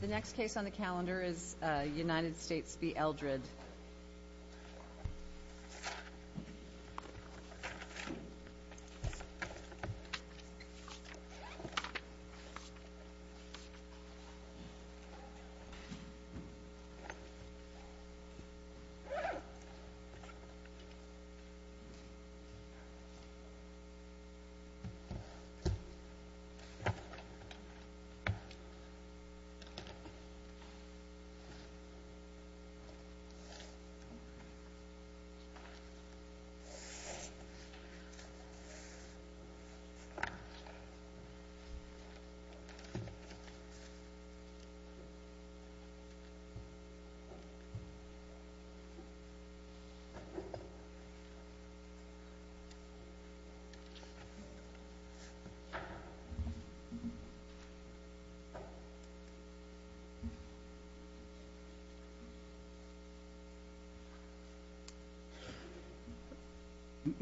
The next case on the calendar is United States v. Eldred. The next case on the calendar is United States v. Eldred.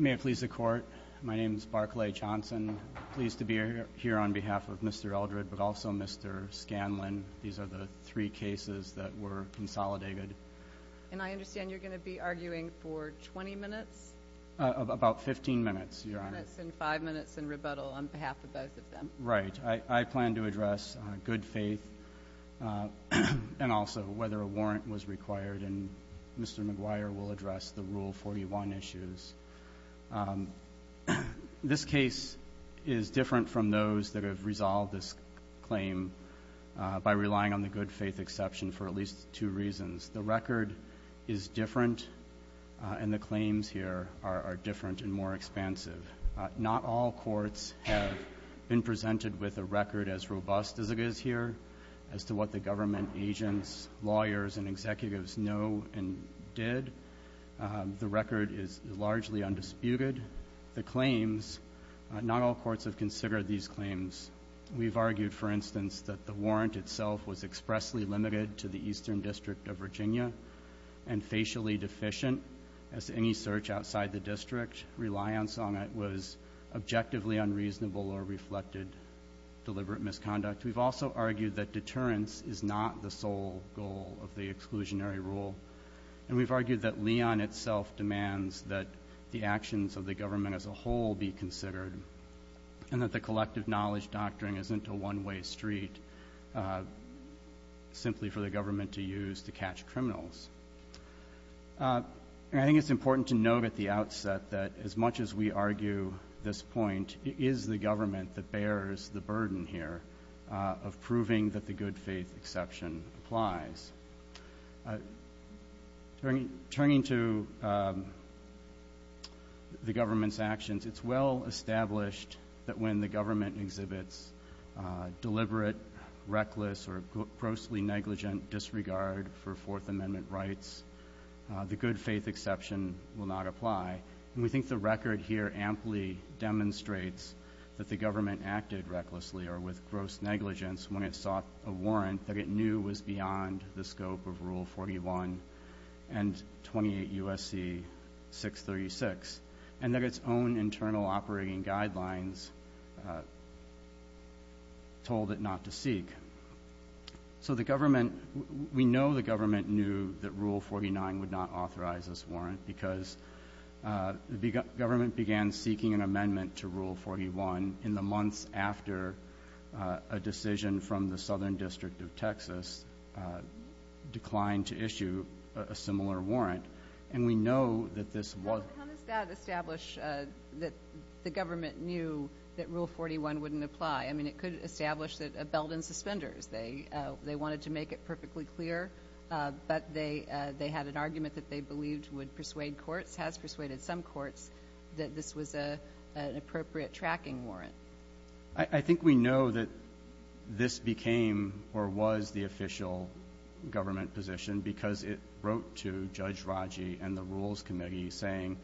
May it please the Court, my name is Barclay Johnson. I'm pleased to be here on behalf of Mr. Eldred but also Mr. Scanlon. These are the three cases that were consolidated. And I understand you're going to be arguing for 20 minutes? About 15 minutes, Your Honor. And five minutes in rebuttal on behalf of both of them. Right. I plan to address good faith and also whether a warrant was required. And Mr. McGuire will address the Rule 41 issues. This case is different from those that have resolved this claim by relying on the good faith exception for at least two reasons. The record is different and the claims here are different and more expansive. Not all courts have been presented with a record as robust as it is here, as to what the government agents, lawyers, and executives know and did. The record is largely undisputed. The claims, not all courts have considered these claims. We've argued, for instance, that the warrant itself was expressly limited to the Eastern District of Virginia and facially deficient as to any search outside the district. Reliance on it was objectively unreasonable or reflected deliberate misconduct. We've also argued that deterrence is not the sole goal of the exclusionary rule. And we've argued that Leon itself demands that the actions of the government as a whole be considered and that the collective knowledge doctrine isn't a one-way street simply for the government to use to catch criminals. And I think it's important to note at the outset that as much as we argue this point, it is the government that bears the burden here of proving that the good faith exception applies. Turning to the government's actions, it's well established that when the government exhibits deliberate, reckless, or grossly negligent disregard for Fourth Amendment rights, the good faith exception will not apply. And we think the record here amply demonstrates that the government acted recklessly or with gross negligence when it sought a warrant that it knew was beyond the scope of Rule 41 and 28 U.S.C. 636 and that its own internal operating guidelines told it not to seek. So we know the government knew that Rule 49 would not authorize this warrant because the government began seeking an amendment to Rule 41 in the months after a decision from the Southern District of Texas declined to issue a similar warrant. And we know that this was ñ Well, how does that establish that the government knew that Rule 41 wouldn't apply? I mean, it could establish that it belled in suspenders. They wanted to make it perfectly clear, but they had an argument that they believed would persuade courts, has persuaded some courts, that this was an appropriate tracking warrant. I think we know that this became or was the official government position because it wrote to Judge Raji and the Rules Committee saying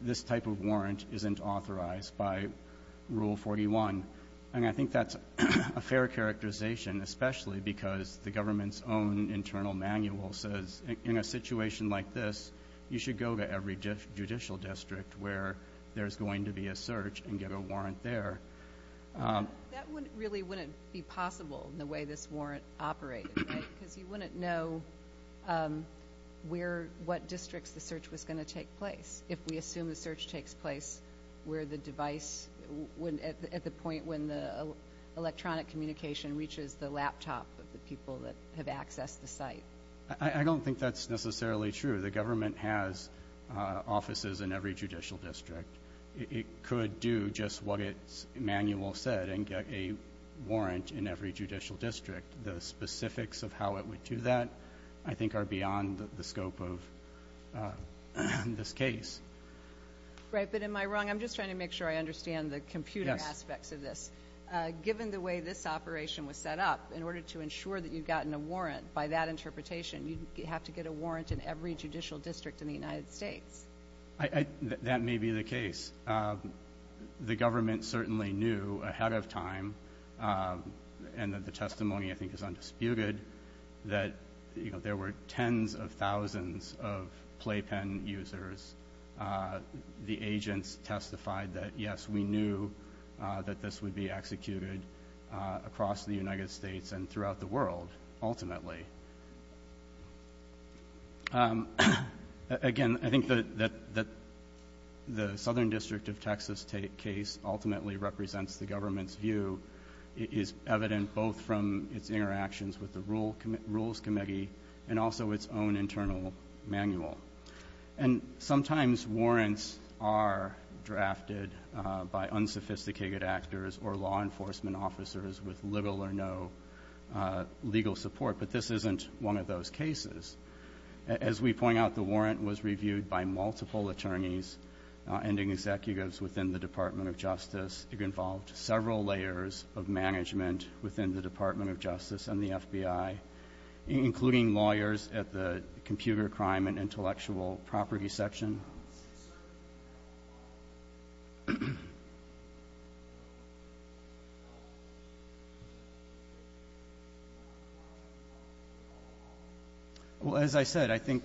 this type of warrant isn't authorized by Rule 41. And I think that's a fair characterization, especially because the government's own internal manual says in a situation like this, you should go to every judicial district where there's going to be a search and get a warrant there. That really wouldn't be possible in the way this warrant operated, right? Because you wouldn't know where, what districts the search was going to take place if we assume the search takes place where the device, at the point when the electronic communication reaches the laptop of the people that have accessed the site. I don't think that's necessarily true. The government has offices in every judicial district. It could do just what its manual said and get a warrant in every judicial district. The specifics of how it would do that I think are beyond the scope of this case. Right, but am I wrong? I'm just trying to make sure I understand the computer aspects of this. Yes. Given the way this operation was set up, in order to ensure that you've gotten a warrant by that interpretation, you'd have to get a warrant in every judicial district in the United States. That may be the case. The government certainly knew ahead of time, and the testimony I think is undisputed, that there were tens of thousands of playpen users. The agents testified that, yes, we knew that this would be executed across the United States and throughout the world ultimately. Again, I think that the Southern District of Texas case ultimately represents the government's view. It is evident both from its interactions with the Rules Committee and also its own internal manual. And sometimes warrants are drafted by unsophisticated actors or law enforcement officers with little or no legal support. But this isn't one of those cases. As we point out, the warrant was reviewed by multiple attorneys and executives within the Department of Justice. It involved several layers of management within the Department of Justice and the FBI, including lawyers at the computer crime and intellectual property section. Well, as I said, I think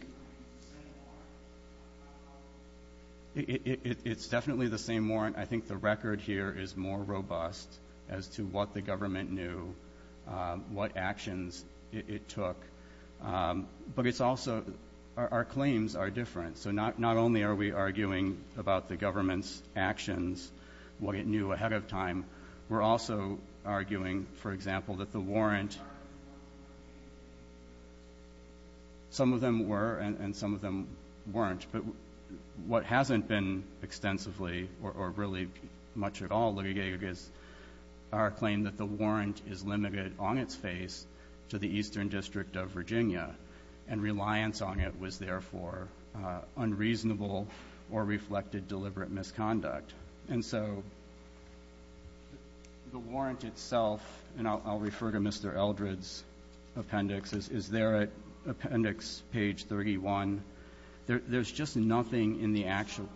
it's definitely the same warrant. I think the record here is more robust as to what the government knew, what actions it took. But it's also our claims are different. So not only are we arguing about the government's actions, what it knew ahead of time, we're also arguing, for example, that the warrant some of them were and some of them weren't. But what hasn't been extensively or really much at all, our claim that the warrant is limited on its face to the Eastern District of Virginia and reliance on it was, therefore, unreasonable or reflected deliberate misconduct. And so the warrant itself, and I'll refer to Mr. Eldred's appendix, is there at appendix page 31. There's just nothing in the actual.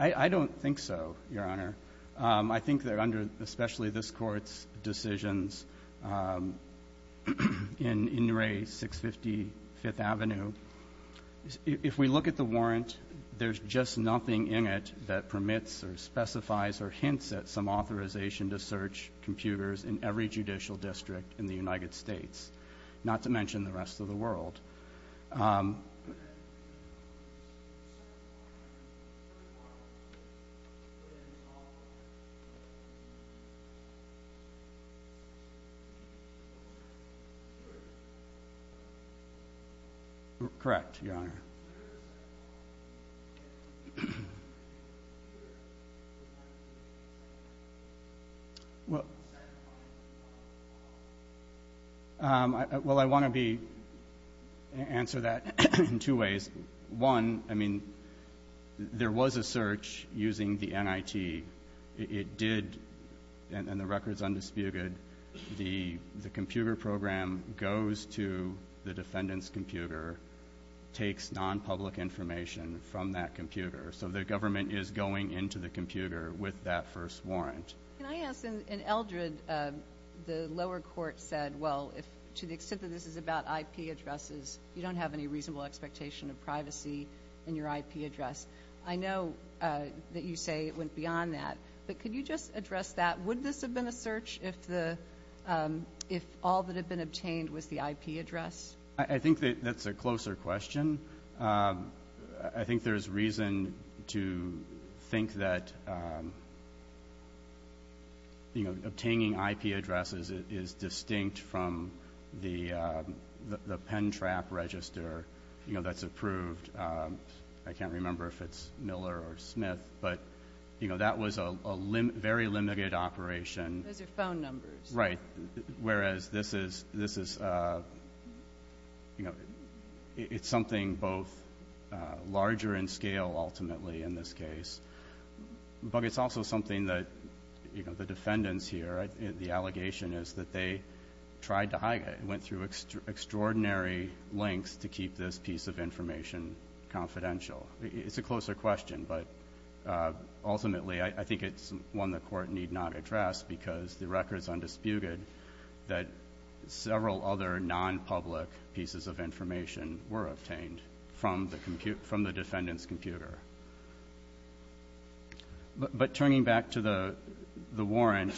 I don't think so, Your Honor. I think that under especially this Court's decisions in In Re. 655th Avenue, if we look at the warrant, there's just nothing in it that permits or specifies or hints at some authorization to search computers in every judicial district in the United States, not to mention the rest of the world. Correct, Your Honor. Well, I want to answer that in two ways. One, I mean, there was a search using the NIT, it did, and the record's undisputed, the computer program goes to the defendant's computer, takes nonpublic information from that computer. So the government is going into the computer with that first warrant. Can I ask, in Eldred, the lower court said, well, to the extent that this is about IP addresses, you don't have any reasonable expectation of privacy in your IP address. I know that you say it went beyond that, but could you just address that? Would this have been a search if all that had been obtained was the IP address? I think that's a closer question. I think there's reason to think that, you know, obtaining IP addresses is distinct from the pen trap register, you know, that's approved. I can't remember if it's Miller or Smith, but, you know, that was a very limited operation. Those are phone numbers. Right, whereas this is, you know, it's something both larger in scale, ultimately, in this case. But it's also something that, you know, the defendants here, the allegation is that they tried to hide it, and went through extraordinary lengths to keep this piece of information confidential. It's a closer question, but ultimately, I think it's one the Court need not address because the record's undisputed that several other nonpublic pieces of information were obtained from the defendant's computer. But turning back to the warrant,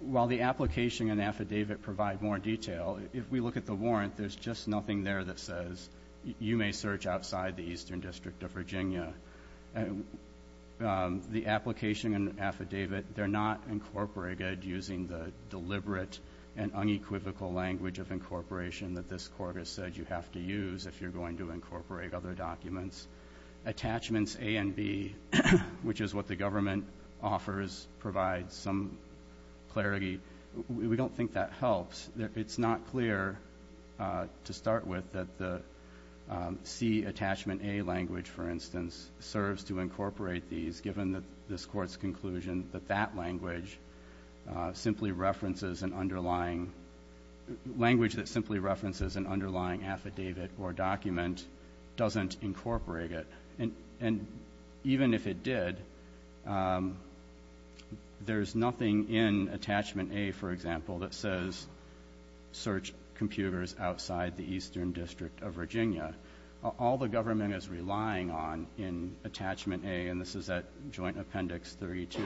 while the application and affidavit provide more detail, if we look at the warrant, there's just nothing there that says, you may search outside the Eastern District of Virginia. The application and affidavit, they're not incorporated using the deliberate and unequivocal language of incorporation that this Court has said you have to use if you're going to incorporate other documents. Attachments A and B, which is what the government offers, provides some clarity. We don't think that helps. It's not clear to start with that the C attachment A language, for instance, serves to incorporate these, given that this Court's conclusion that that language simply references an underlying – language that simply references an underlying affidavit or document doesn't incorporate it. And even if it did, there's nothing in attachment A, for example, that says search computers outside the Eastern District of Virginia. All the government is relying on in attachment A, and this is at Joint Appendix 32,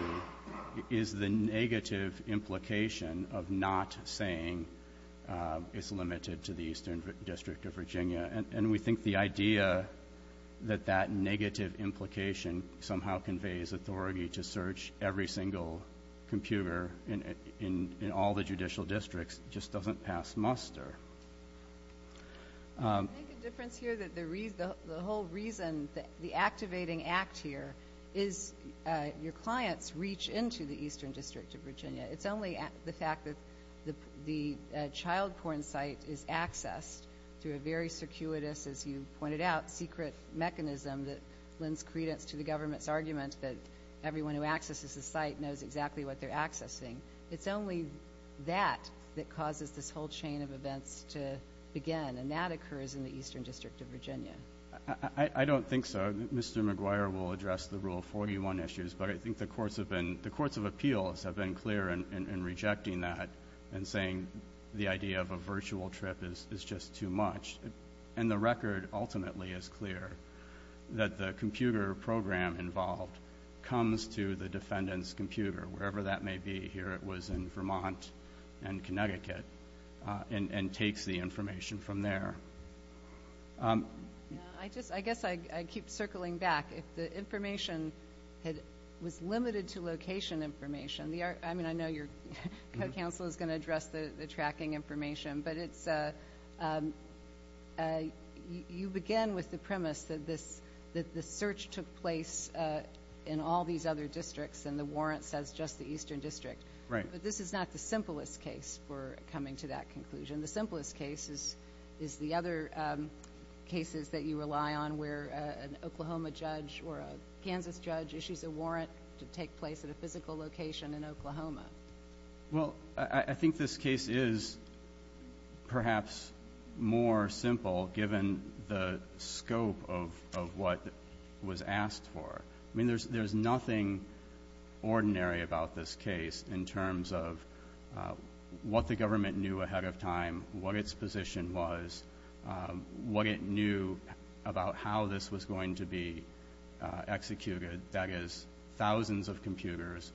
is the negative implication of not saying it's limited to the Eastern District of Virginia. And we think the idea that that negative implication somehow conveys authority to search every single computer in all the judicial districts just doesn't pass muster. I think the difference here that the whole reason the activating act here is your clients reach into the Eastern District of Virginia. It's only the fact that the child porn site is accessed through a very circuitous, as you pointed out, secret mechanism that lends credence to the government's argument that everyone who accesses the site knows exactly what they're accessing. It's only that that causes this whole chain of events to begin, and that occurs in the Eastern District of Virginia. I don't think so. Mr. McGuire will address the Rule 41 issues, but I think the courts of appeals have been clear in rejecting that and saying the idea of a virtual trip is just too much. And the record ultimately is clear that the computer program involved comes to the defendant's computer, wherever that may be. Here it was in Vermont and Connecticut, and takes the information from there. I guess I keep circling back. If the information was limited to location information, I mean, I know your co-counsel is going to address the tracking information, but you begin with the premise that the search took place in all these other districts and the warrant says just the Eastern District. Right. But this is not the simplest case for coming to that conclusion. The simplest case is the other cases that you rely on where an Oklahoma judge or a Kansas judge issues a warrant to take place at a physical location in Oklahoma. Well, I think this case is perhaps more simple given the scope of what was asked for. I mean, there's nothing ordinary about this case in terms of what the government knew ahead of time, what its position was, what it knew about how this was going to be executed, that is, thousands of computers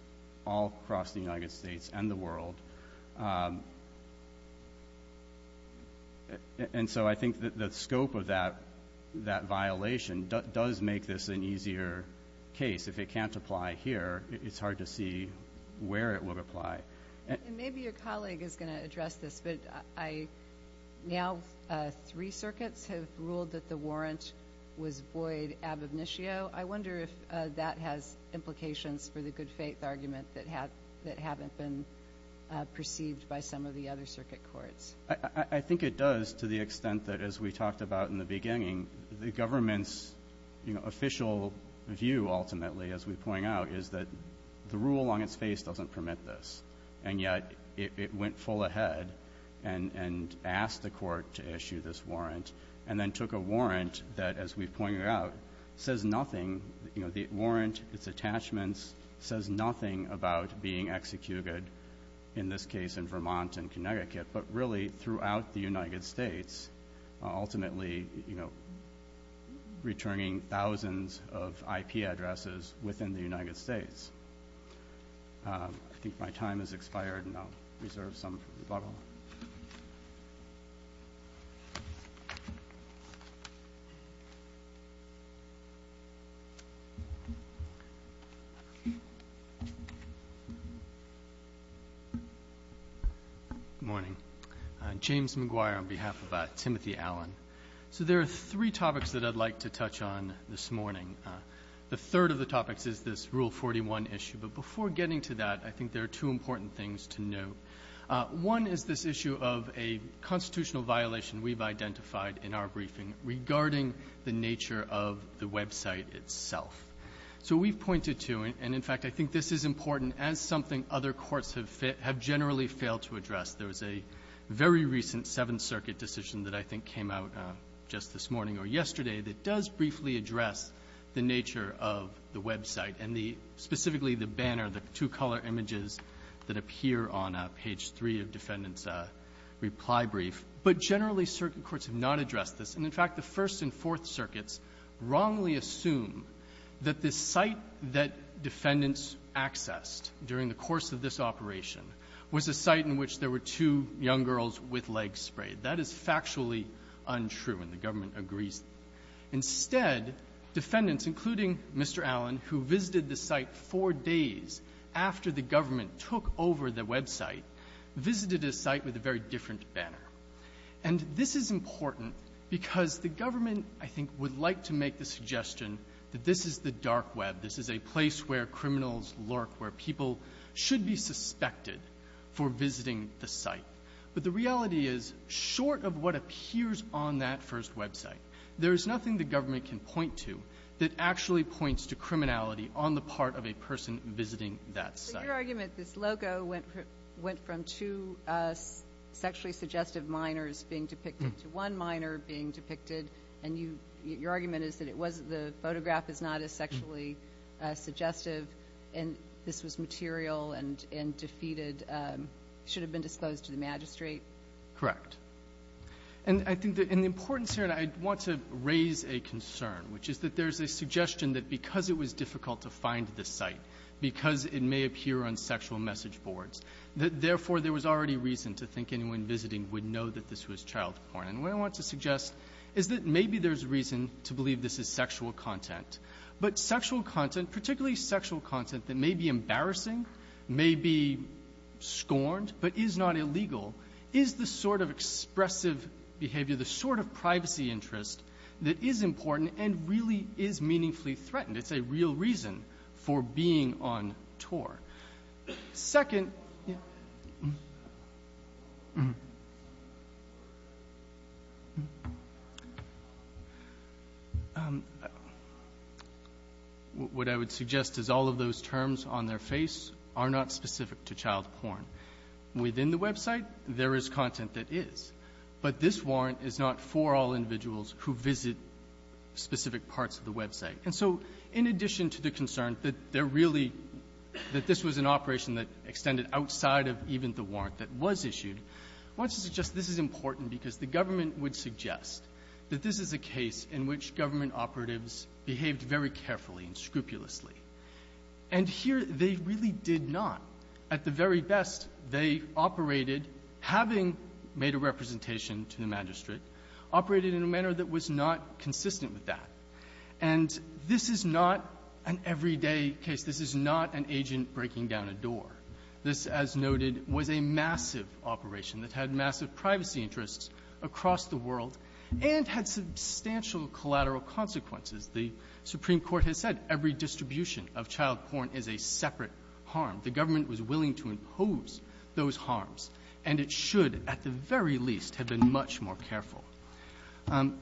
all across the United States and the world. And so I think the scope of that violation does make this an easier case. If it can't apply here, it's hard to see where it would apply. And maybe your colleague is going to address this, but now three circuits have ruled that the warrant was void ab initio. I wonder if that has implications for the good faith argument that haven't been perceived by some of the other circuit courts. I think it does to the extent that, as we talked about in the beginning, the government's official view ultimately, as we point out, is that the rule on its face doesn't permit this. And yet it went full ahead and asked the court to issue this warrant and then took a warrant that, as we pointed out, says nothing. The warrant, its attachments, says nothing about being executed, in this case in Vermont and Connecticut, but really throughout the United States, ultimately returning thousands of IP addresses within the United States. I think my time has expired, and I'll reserve some for rebuttal. Good morning. I'm James McGuire on behalf of Timothy Allen. So there are three topics that I'd like to touch on this morning. The third of the topics is this Rule 41 issue. But before getting to that, I think there are two important things to note. One is this issue of a constitutional violation we've identified in our briefing regarding the nature of the website itself. So we've pointed to, and in fact I think this is important, as something other courts have generally failed to address. There was a very recent Seventh Circuit decision that I think came out just this morning or yesterday that does briefly address the nature of the website and the — specifically the banner, the two-color images that appear on page 3 of defendants' reply brief. But generally, circuit courts have not addressed this. And in fact, the First and Fourth Circuits wrongly assume that the site that defendants accessed during the course of this operation was a site in which there were two young girls with legs sprayed. That is factually untrue, and the government agrees. Instead, defendants, including Mr. Allen, who visited the site four days after the government took over the website, visited a site with a very different banner. And this is important because the government, I think, would like to make the suggestion that this is the dark web. This is a place where criminals lurk, where people should be suspected for visiting the site. But the reality is, short of what appears on that first website, there is nothing the government can point to that actually points to criminality on the part of a person visiting that site. So your argument, this logo went from two sexually suggestive minors being depicted to one minor being depicted, and you — your argument is that it wasn't — the photograph is not as sexually suggestive, and this was material and defeated, should have been disclosed to the magistrate? Correct. And I think that — and the importance here, and I want to raise a concern, which is that there's a suggestion that because it was difficult to find this site, because it may appear on sexual message boards, that, therefore, there was already reason to think anyone visiting would know that this was child porn. And what I want to suggest is that maybe there's a reason to believe this is sexual content. But sexual content, particularly sexual content that may be embarrassing, may be scorned, but is not illegal, is the sort of expressive behavior, the sort of privacy interest that is important and really is meaningfully threatened. It's a real reason for being on tour. Second, what I would suggest is all of those terms on their face are not specific to child porn. Within the website, there is content that is. But this warrant is not for all individuals who visit specific parts of the website. And so in addition to the concern that there really — that this was an operation that extended outside of even the warrant that was issued, I want to suggest this is important because the government would suggest that this is a case in which government operatives behaved very carefully and scrupulously. And here, they really did not. At the very best, they operated, having made a representation to the magistrate, operated in a manner that was not consistent with that. And this is not an everyday case. This is not an agent breaking down a door. This, as noted, was a massive operation that had massive privacy interests across the world and had substantial collateral consequences. The Supreme Court has said every distribution of child porn is a separate harm. The government was willing to impose those harms, and it did so.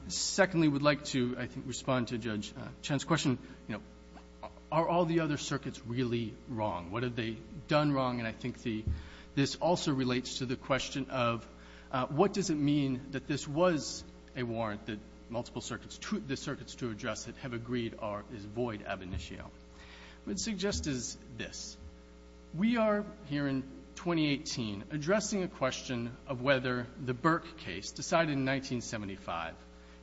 Secondly, we'd like to, I think, respond to Judge Chen's question, you know, are all the other circuits really wrong? What have they done wrong? And I think the — this also relates to the question of what does it mean that this was a warrant that multiple circuits to — the circuits to address it have agreed are — is void ab initio. What I'd suggest is this. We are, here in 2018, addressing a question of whether the Burke case, decided in 1975,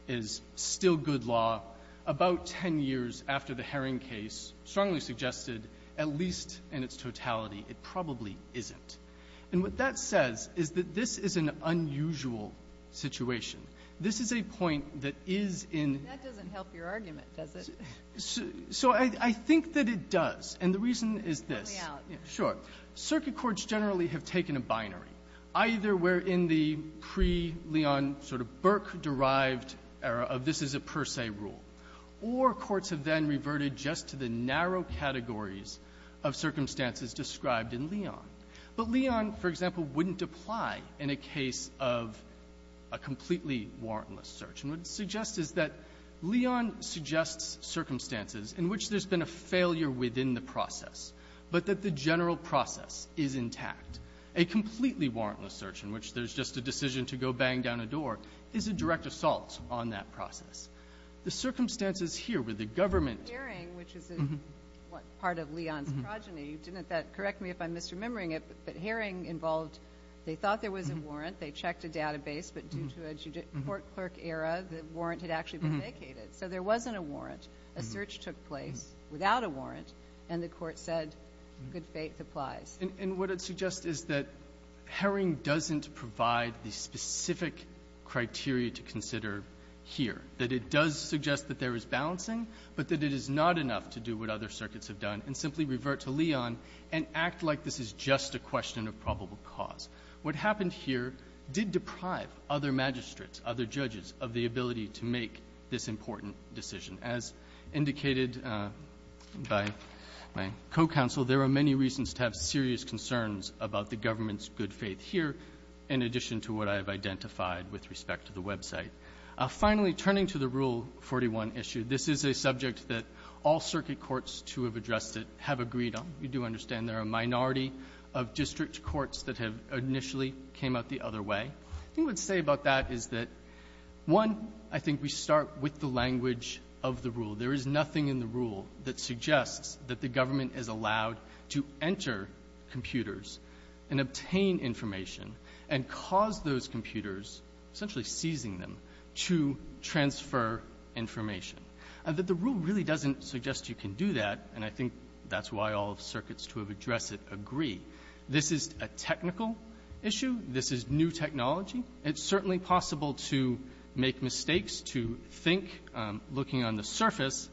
is still good law about 10 years after the Herring case, strongly suggested, at least in its totality, it probably isn't. And what that says is that this is an unusual situation. This is a point that is in — That doesn't help your argument, does it? So I think that it does. And the reason is this. Help me out. Sure. Circuit courts generally have taken a binary, either we're in the pre-Leon sort of Burke-derived era of this is a per se rule, or courts have then reverted just to the narrow categories of circumstances described in Leon. But Leon, for example, wouldn't apply in a case of a completely warrantless search. And what it suggests is that Leon suggests circumstances in which there's been a failure within the process, but that the general process is intact. A completely warrantless search in which there's just a decision to go bang down a door is a direct assault on that process. The circumstances here where the government — Herring, which is part of Leon's progeny, didn't that — correct me if I'm misremembering it, but Herring involved — they thought there was a warrant, they checked a database, but due to a court-clerk era, the warrant had actually been vacated. So there wasn't a warrant. A search took place without a warrant, and the Court said good faith applies. And what it suggests is that Herring doesn't provide the specific criteria to consider here, that it does suggest that there is balancing, but that it is not enough to do what other circuits have done and simply revert to Leon and act like this is just a question of probable cause. What happened here did deprive other magistrates, other judges, of the ability to make this important decision. As indicated by my co-counsel, there are many reasons to have serious concerns about the government's good faith here, in addition to what I have identified with respect to the website. Finally, turning to the Rule 41 issue, this is a subject that all circuit courts to have addressed it have agreed on. We do understand there are a minority of district courts that have initially came out the other way. I think what to say about that is that, one, I think we start with the language of the rule. There is nothing in the rule that suggests that the government is allowed to enter computers and obtain information and cause those computers, essentially seizing them, to transfer information. And that the rule really doesn't suggest you can do that, and I think that's why all circuits to have addressed it agree. This is a technical issue. This is new technology. It's certainly possible to make mistakes, to think, looking on the surface,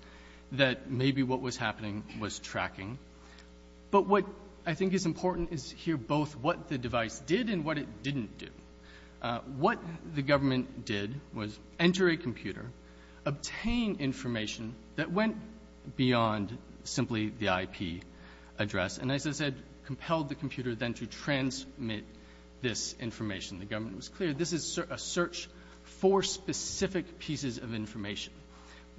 that maybe what was happening was tracking. But what I think is important is to hear both what the device did and what it didn't do. What the government did was enter a computer, obtain information that went beyond simply the IP address. And as I said, compelled the computer then to transmit this information. The government was clear, this is a search for specific pieces of information.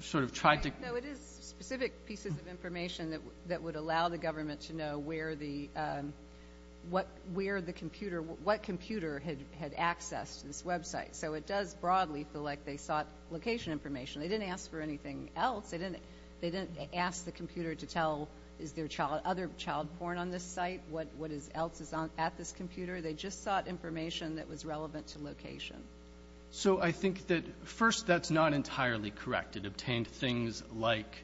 Sort of tried to — No, it is specific pieces of information that would allow the government to know where the — what — where the computer — what computer had accessed this website. So it does broadly feel like they sought location information. They didn't ask for a horn on this site, what else is at this computer. They just sought information that was relevant to location. So I think that, first, that's not entirely correct. It obtained things like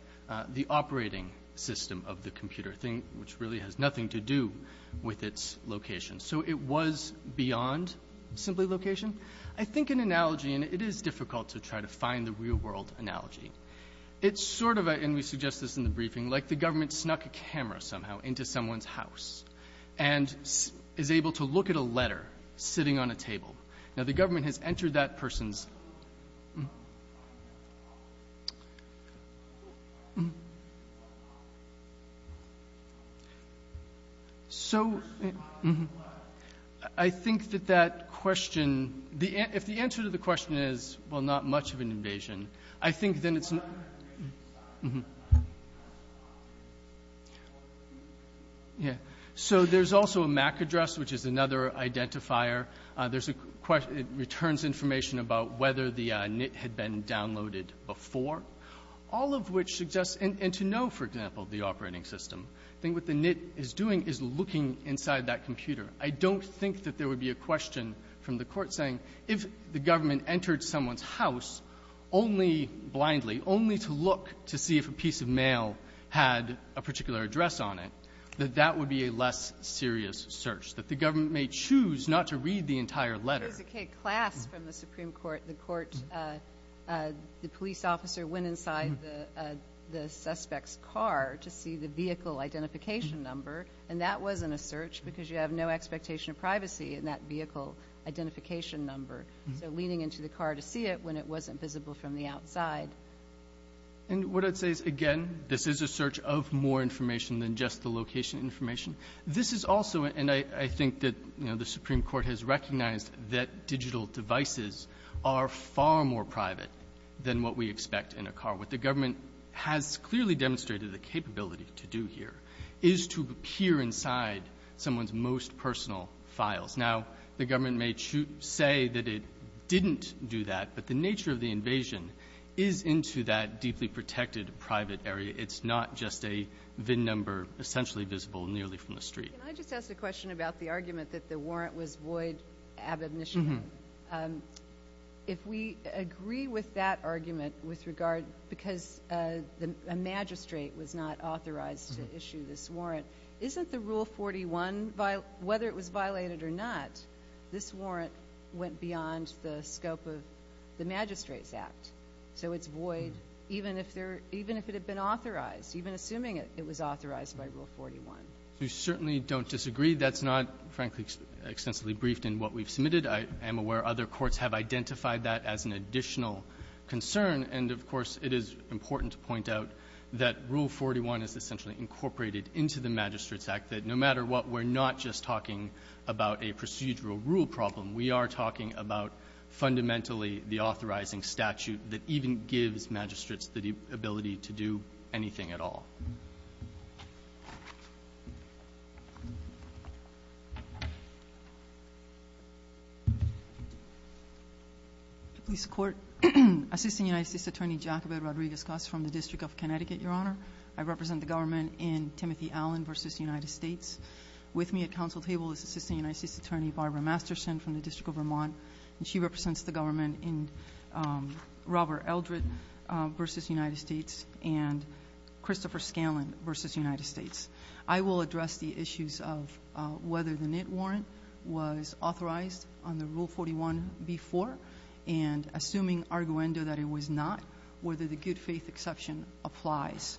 the operating system of the computer, which really has nothing to do with its location. So it was beyond simply location. I think an analogy — and it is difficult to try to find the real-world analogy. It's sort of a — and we suggest this in the briefing — like the government snuck a camera somehow into someone's house and is able to look at a letter sitting on a table. Now, the government has entered that person's — So I think that that question — if the answer to the question is, well, not much of an invasion, I think then it's not — So there's also a MAC address, which is another identifier. There's a — it returns information about whether the NIT had been downloaded before, all of which suggests — and to know, for example, the operating system. I think what the NIT is doing is looking inside that computer. I don't think that there would be a question from the Court saying, if the government entered someone's house only blindly, only to look to see if a piece of mail had a particular address on it, that that would be a less serious search, that the government may choose not to read the entire letter. It was a K-class from the Supreme Court. The Court — the police officer went inside the suspect's car to see the vehicle identification number, and that wasn't a search because you have no expectation of privacy in that vehicle identification number. So leaning into the car to see it when it wasn't visible from the outside. And what I'd say is, again, this is a search of more information than just the location information. This is also — and I think that, you know, the Supreme Court has recognized that digital devices are far more private than what we expect in a car. What the government has clearly demonstrated the capability to do here is to peer inside someone's most personal files. Now, the government may say that it didn't do that, but the nature of the invasion is into that deeply protected private area. It's not just a VIN number essentially visible nearly from the street. Can I just ask a question about the argument that the warrant was void ab admission? If we agree with that argument with regard — because a magistrate was not authorized to issue this warrant, isn't the Rule 41, whether it was violated or not, this warrant went beyond the scope of the Magistrates Act? So it's void even if there — even if it had been authorized, even assuming it was authorized by Rule 41? We certainly don't disagree. That's not, frankly, extensively briefed in what we've done. I'm aware other courts have identified that as an additional concern. And, of course, it is important to point out that Rule 41 is essentially incorporated into the Magistrates Act, that no matter what, we're not just talking about a procedural rule problem. We are talking about fundamentally the authorizing statute that even gives magistrates the ability to do anything at all. Please support. Assistant United States Attorney Jacoby Rodriguez-Coss from the District of Connecticut, Your Honor. I represent the government in Timothy Allen v. United States. With me at council table is Assistant United States Attorney Barbara Masterson from the District of Vermont, and she represents the government in Robert Eldred v. United States and Christopher Scanlon v. United States. I will address the issues of whether the NITT warrant was authorized under Rule 41 before, and assuming arguendo that it was not, whether the good-faith exception applies.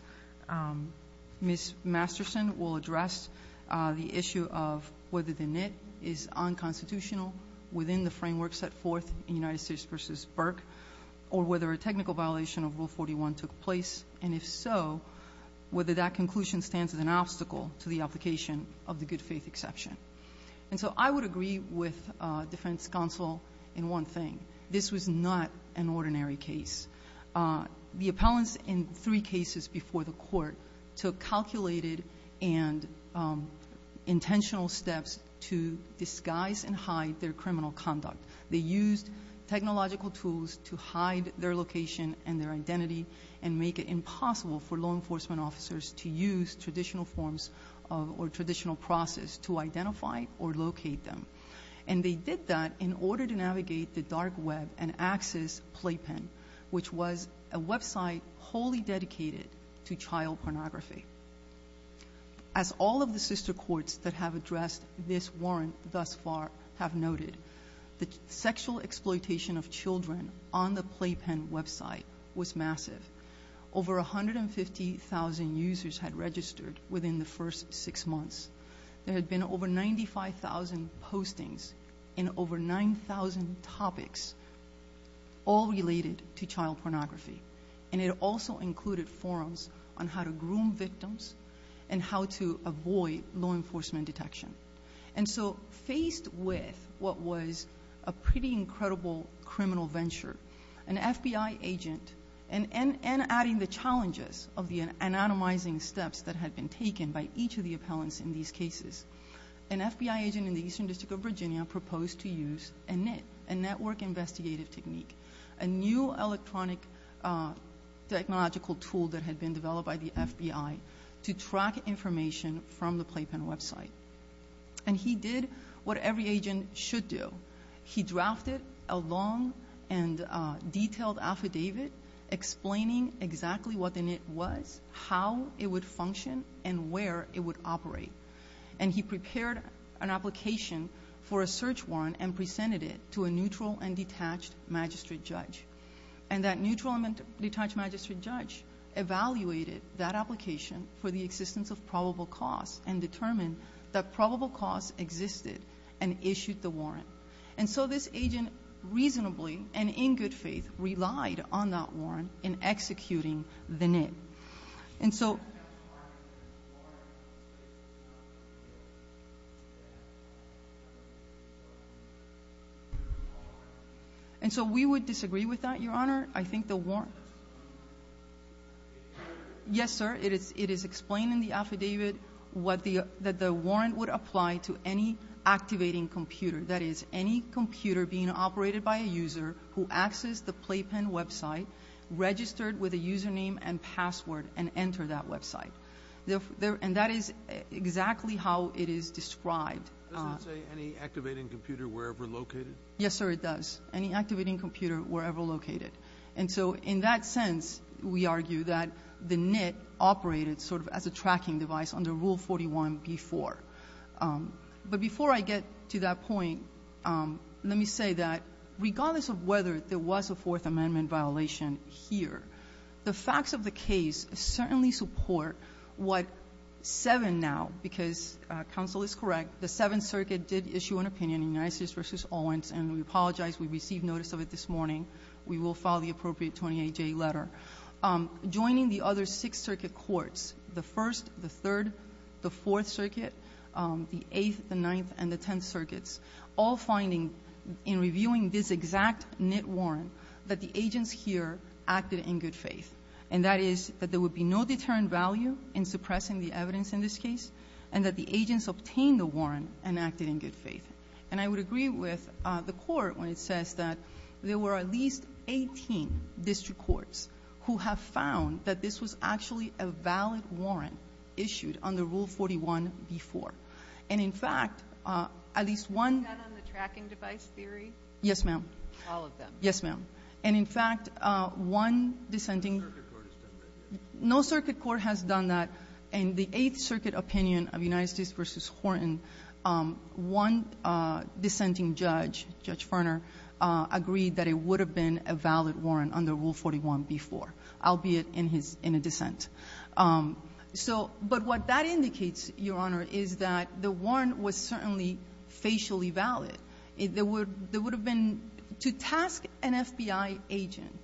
Ms. Masterson will address the issue of whether the NITT is unconstitutional within the framework set forth in United States v. Burke, or whether a technical violation of Rule 41 took place, and if so, whether that conclusion stands as an obstacle to the application of the good-faith exception. And so I would agree with defense counsel in one thing. This was not an ordinary case. The appellants in three cases before the Court took calculated and intentional steps to disguise and hide their criminal conduct. They used technological tools to hide their location and their identity and make it impossible for law enforcement officers to use traditional forms or traditional process to identify or locate them. And they did that in order to navigate the dark web and access Playpen, which was a website wholly dedicated to child pornography. As all of the sister courts that have addressed this warrant thus far have noted, the sexual exploitation of children on the Playpen website was massive. Over 150,000 users had registered within the first six months. There had been over 95,000 postings in over 9,000 topics all related to child pornography. And it also included forums on how to groom victims and how to avoid law enforcement detection. And so faced with what was a pretty incredible criminal venture, an FBI agent, and adding the challenges of the anonymizing steps that had been taken by each of the appellants in these cases, an FBI agent in the Eastern District of Virginia proposed to use a NIT, a network investigative technique, a new electronic technological tool that had been developed by the FBI, to track information from the Playpen website. And he did what every agent should do. He drafted a long and detailed affidavit explaining exactly what the NIT was, how it would function, and where it would go for a search warrant and presented it to a neutral and detached magistrate judge. And that neutral and detached magistrate judge evaluated that application for the existence of probable cause and determined that probable cause existed and issued the warrant. And so this agent reasonably and in good faith relied on that warrant in executing the NIT. And so... And so we would disagree with that, Your Honor. I think the warrant... Yes, sir. It is explained in the affidavit that the warrant would apply to any activating computer, that is, any computer being operated by a user who accessed the Playpen website, registered with a username and password, and entered that website. And that is exactly how it is described. Does it say any activating computer wherever located? Yes, sir, it does. Any activating computer wherever located. And so in that sense, we argue that the NIT operated sort of as a tracking device under Rule 41b-4. But before I get to that point, let me say that regardless of whether there was a Fourth Amendment violation here, the facts of the case certainly support what 7 now, because counsel is correct, the Seventh Circuit did issue an opinion in United States v. Owens, and we apologize. We received notice of it this morning. We will file the appropriate 28-J letter. Joining the other Sixth Circuit courts, the First, the Third, the Fourth Circuits all finding in reviewing this exact NIT warrant that the agents here acted in good faith, and that is that there would be no deterrent value in suppressing the evidence in this case and that the agents obtained the warrant and acted in good faith. And I would agree with the Court when it says that there were at least 18 district courts who have found that this was actually a valid warrant issued under Rule 41b-4. And, in fact, at least one of the tracking device theory. Yes, ma'am. All of them. Yes, ma'am. And, in fact, one dissenting no circuit court has done that. In the Eighth Circuit opinion of United States v. Horton, one dissenting judge, Judge Ferner, agreed that it would have been a valid warrant under Rule 41b-4, albeit in his dissent. But what that indicates, Your Honor, is that the warrant was certainly facially valid. There would have been to task an FBI agent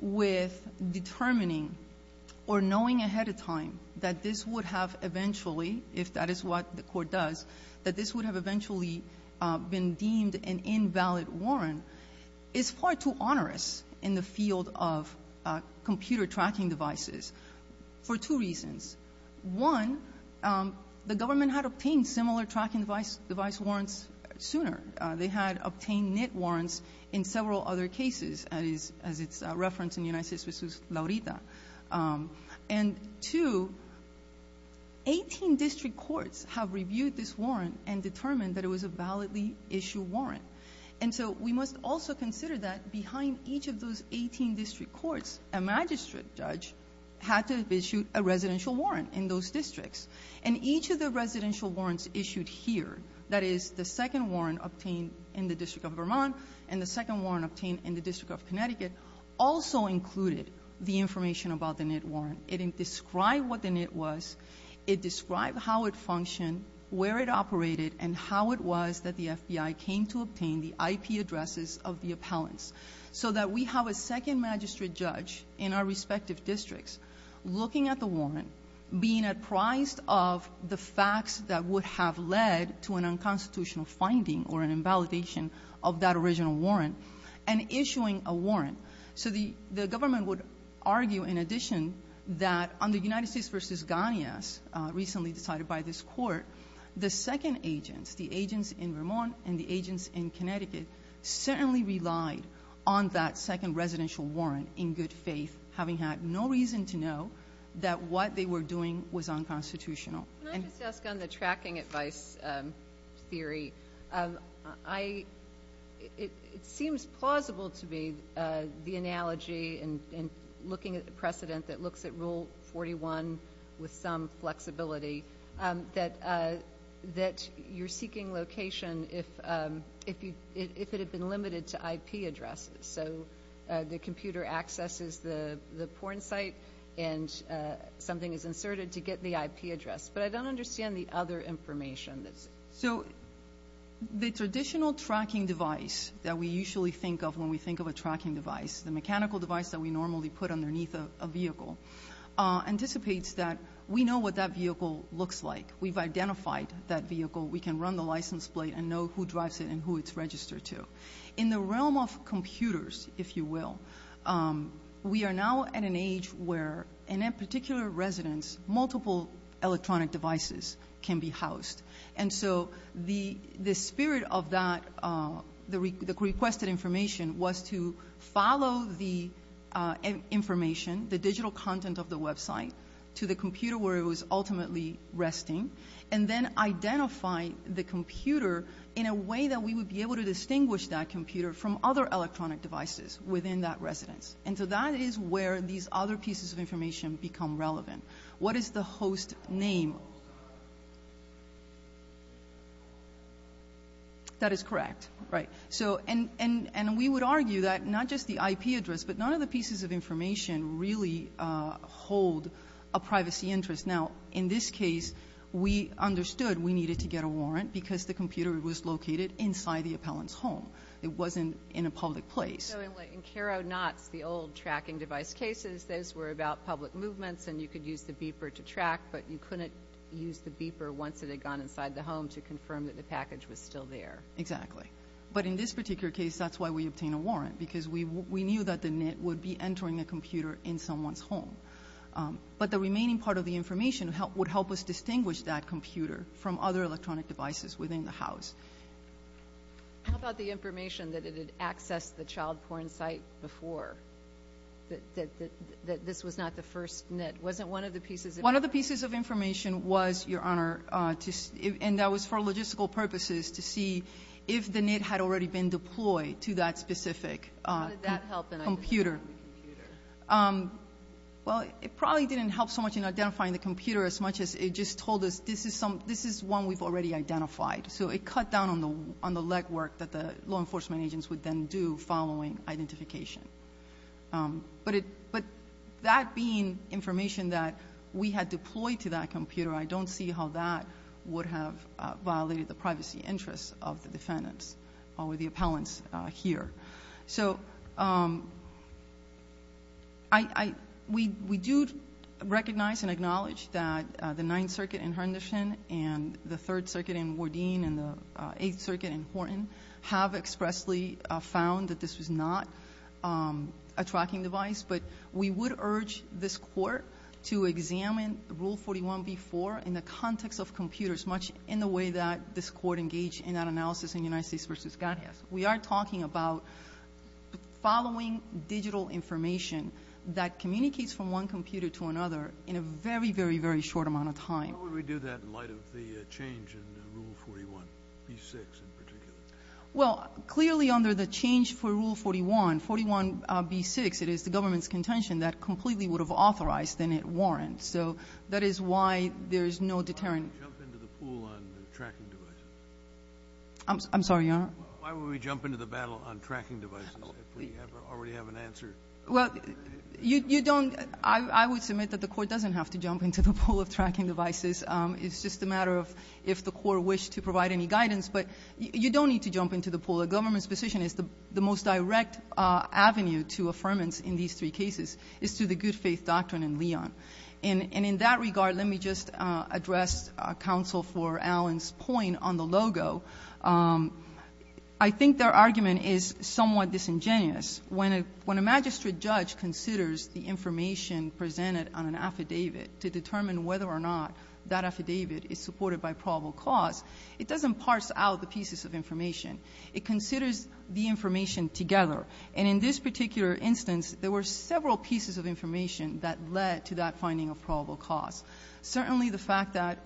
with determining or knowing ahead of time that this would have eventually, if that is what the court does, that this would have eventually been deemed an invalid warrant is far too onerous in the field of computer tracking devices for two reasons. One, the government had obtained similar tracking device warrants sooner. They had obtained NIT warrants in several other cases, as it's referenced in United States v. Laurita. And, two, 18 district courts have reviewed this warrant and determined that it was a validly-issued warrant. And so we must also consider that behind each of those 18 district courts, a magistrate judge had to have issued a residential warrant in those districts. And each of the residential warrants issued here, that is, the second warrant obtained in the District of Vermont and the second warrant obtained in the District of Connecticut, also included the information about the NIT warrant was, it described how it functioned, where it operated, and how it was that the FBI came to obtain the IP addresses of the appellants, so that we have a second magistrate judge in our respective districts looking at the warrant, being apprised of the facts that would have led to an unconstitutional finding or an invalidation of that original warrant, and issuing a warrant. So the government would argue, in addition, that on the United States v. Ganias, recently decided by this Court, the second agents, the agents in Vermont and the agents in Connecticut, certainly relied on that second residential warrant in good faith, having had no reason to know that what they were doing was unconstitutional. And the other thing I would like to ask on the tracking advice theory, I – it seems plausible to me, the analogy and looking at the precedent that looks at Rule 41 with some flexibility, that you're seeking location if it had been limited to IP addresses. So the computer accesses the porn site, and something is inserted to get the IP address. But I don't understand the other information that's – So the traditional tracking device that we usually think of when we think of a tracking device, the mechanical device that we normally put underneath a vehicle, anticipates that we know what that vehicle looks like. We've identified that vehicle. We can run the license plate and know who drives it and who it's registered to. In the realm of computers, if you will, we are now at an age where, in a particular residence, multiple electronic devices can be housed. And so the spirit of that, the requested information, was to follow the information, the digital content of the website, to the computer where it was ultimately resting, and then identify the computer in a way that we would be able to distinguish that computer from other electronic devices within that residence. And so that is where these other pieces of information become relevant. What is the host name? That is correct. Right. So – and we would argue that not just the IP address, but none of the pieces of information really hold a privacy interest. Now, in this case, we understood we needed to get a warrant because the computer was located inside the appellant's home. It wasn't in a public place. So, in Caro Knott's, the old tracking device cases, those were about public movements and you could use the beeper to track, but you couldn't use the beeper once it had gone inside the home to confirm that the package was still there. Exactly. But in this particular case, that's why we obtained a warrant, because we knew that the NIT would be entering the computer in someone's home. But the remaining part of the information would help us distinguish that computer from other electronic devices within the house. How about the information that it had accessed the child porn site before, that this was not the first NIT? Wasn't one of the pieces of information? One of the pieces of information was, Your Honor, to – and that was for logistical purposes to see if the NIT had already been deployed to that specific computer. How did that help in identifying the computer? Well, it probably didn't help so much in identifying the computer as much as it just told us, this is one we've already identified. So it cut down on the legwork that the law enforcement agents would then do following identification. But it – but that being information that we had deployed to that computer, I don't see how that would have violated the privacy interests of the defendants or the appellants here. So I – we do recognize and acknowledge that the Ninth Circuit and the Ninth Circuit in Henderson and the Third Circuit in Wardeen and the Eighth Circuit in Horton have expressly found that this was not a tracking device. But we would urge this Court to examine Rule 41b-4 in the context of computers, much in the way that this Court engaged in that analysis in United States v. Scott. We are talking about following digital information that communicates from one computer to another in a very, very, very short amount of time. Why would we do that in light of the change in Rule 41b-6 in particular? Well, clearly under the change for Rule 41, 41b-6, it is the government's contention that completely would have authorized, then it warrants. So that is why there is no deterrent. Why would we jump into the pool on tracking devices? I'm sorry, Your Honor? Why would we jump into the battle on tracking devices if we already have an answer? Well, you don't – I would submit that the Court doesn't have to jump into the pool of tracking devices. It's just a matter of if the Court wished to provide any guidance. But you don't need to jump into the pool. The government's position is the most direct avenue to affirmance in these three cases is through the good faith doctrine in Leon. And in that regard, let me just address counsel for Allen's point on the logo. I think their argument is somewhat disingenuous. When a magistrate judge considers the information presented on an affidavit to determine whether or not that affidavit is supported by probable cause, it doesn't parse out the pieces of information. It considers the information together. And in this particular instance, there were several pieces of information that led to that finding of probable cause. Certainly the fact that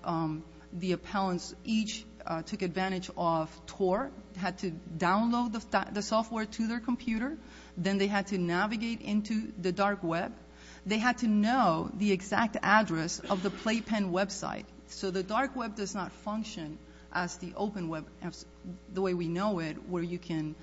the appellants each took advantage of Tor, had to download the software to their computer. Then they had to navigate into the dark web. They had to know the exact address of the Playpen website. So the dark web does not function as the open web – the way we know it where you can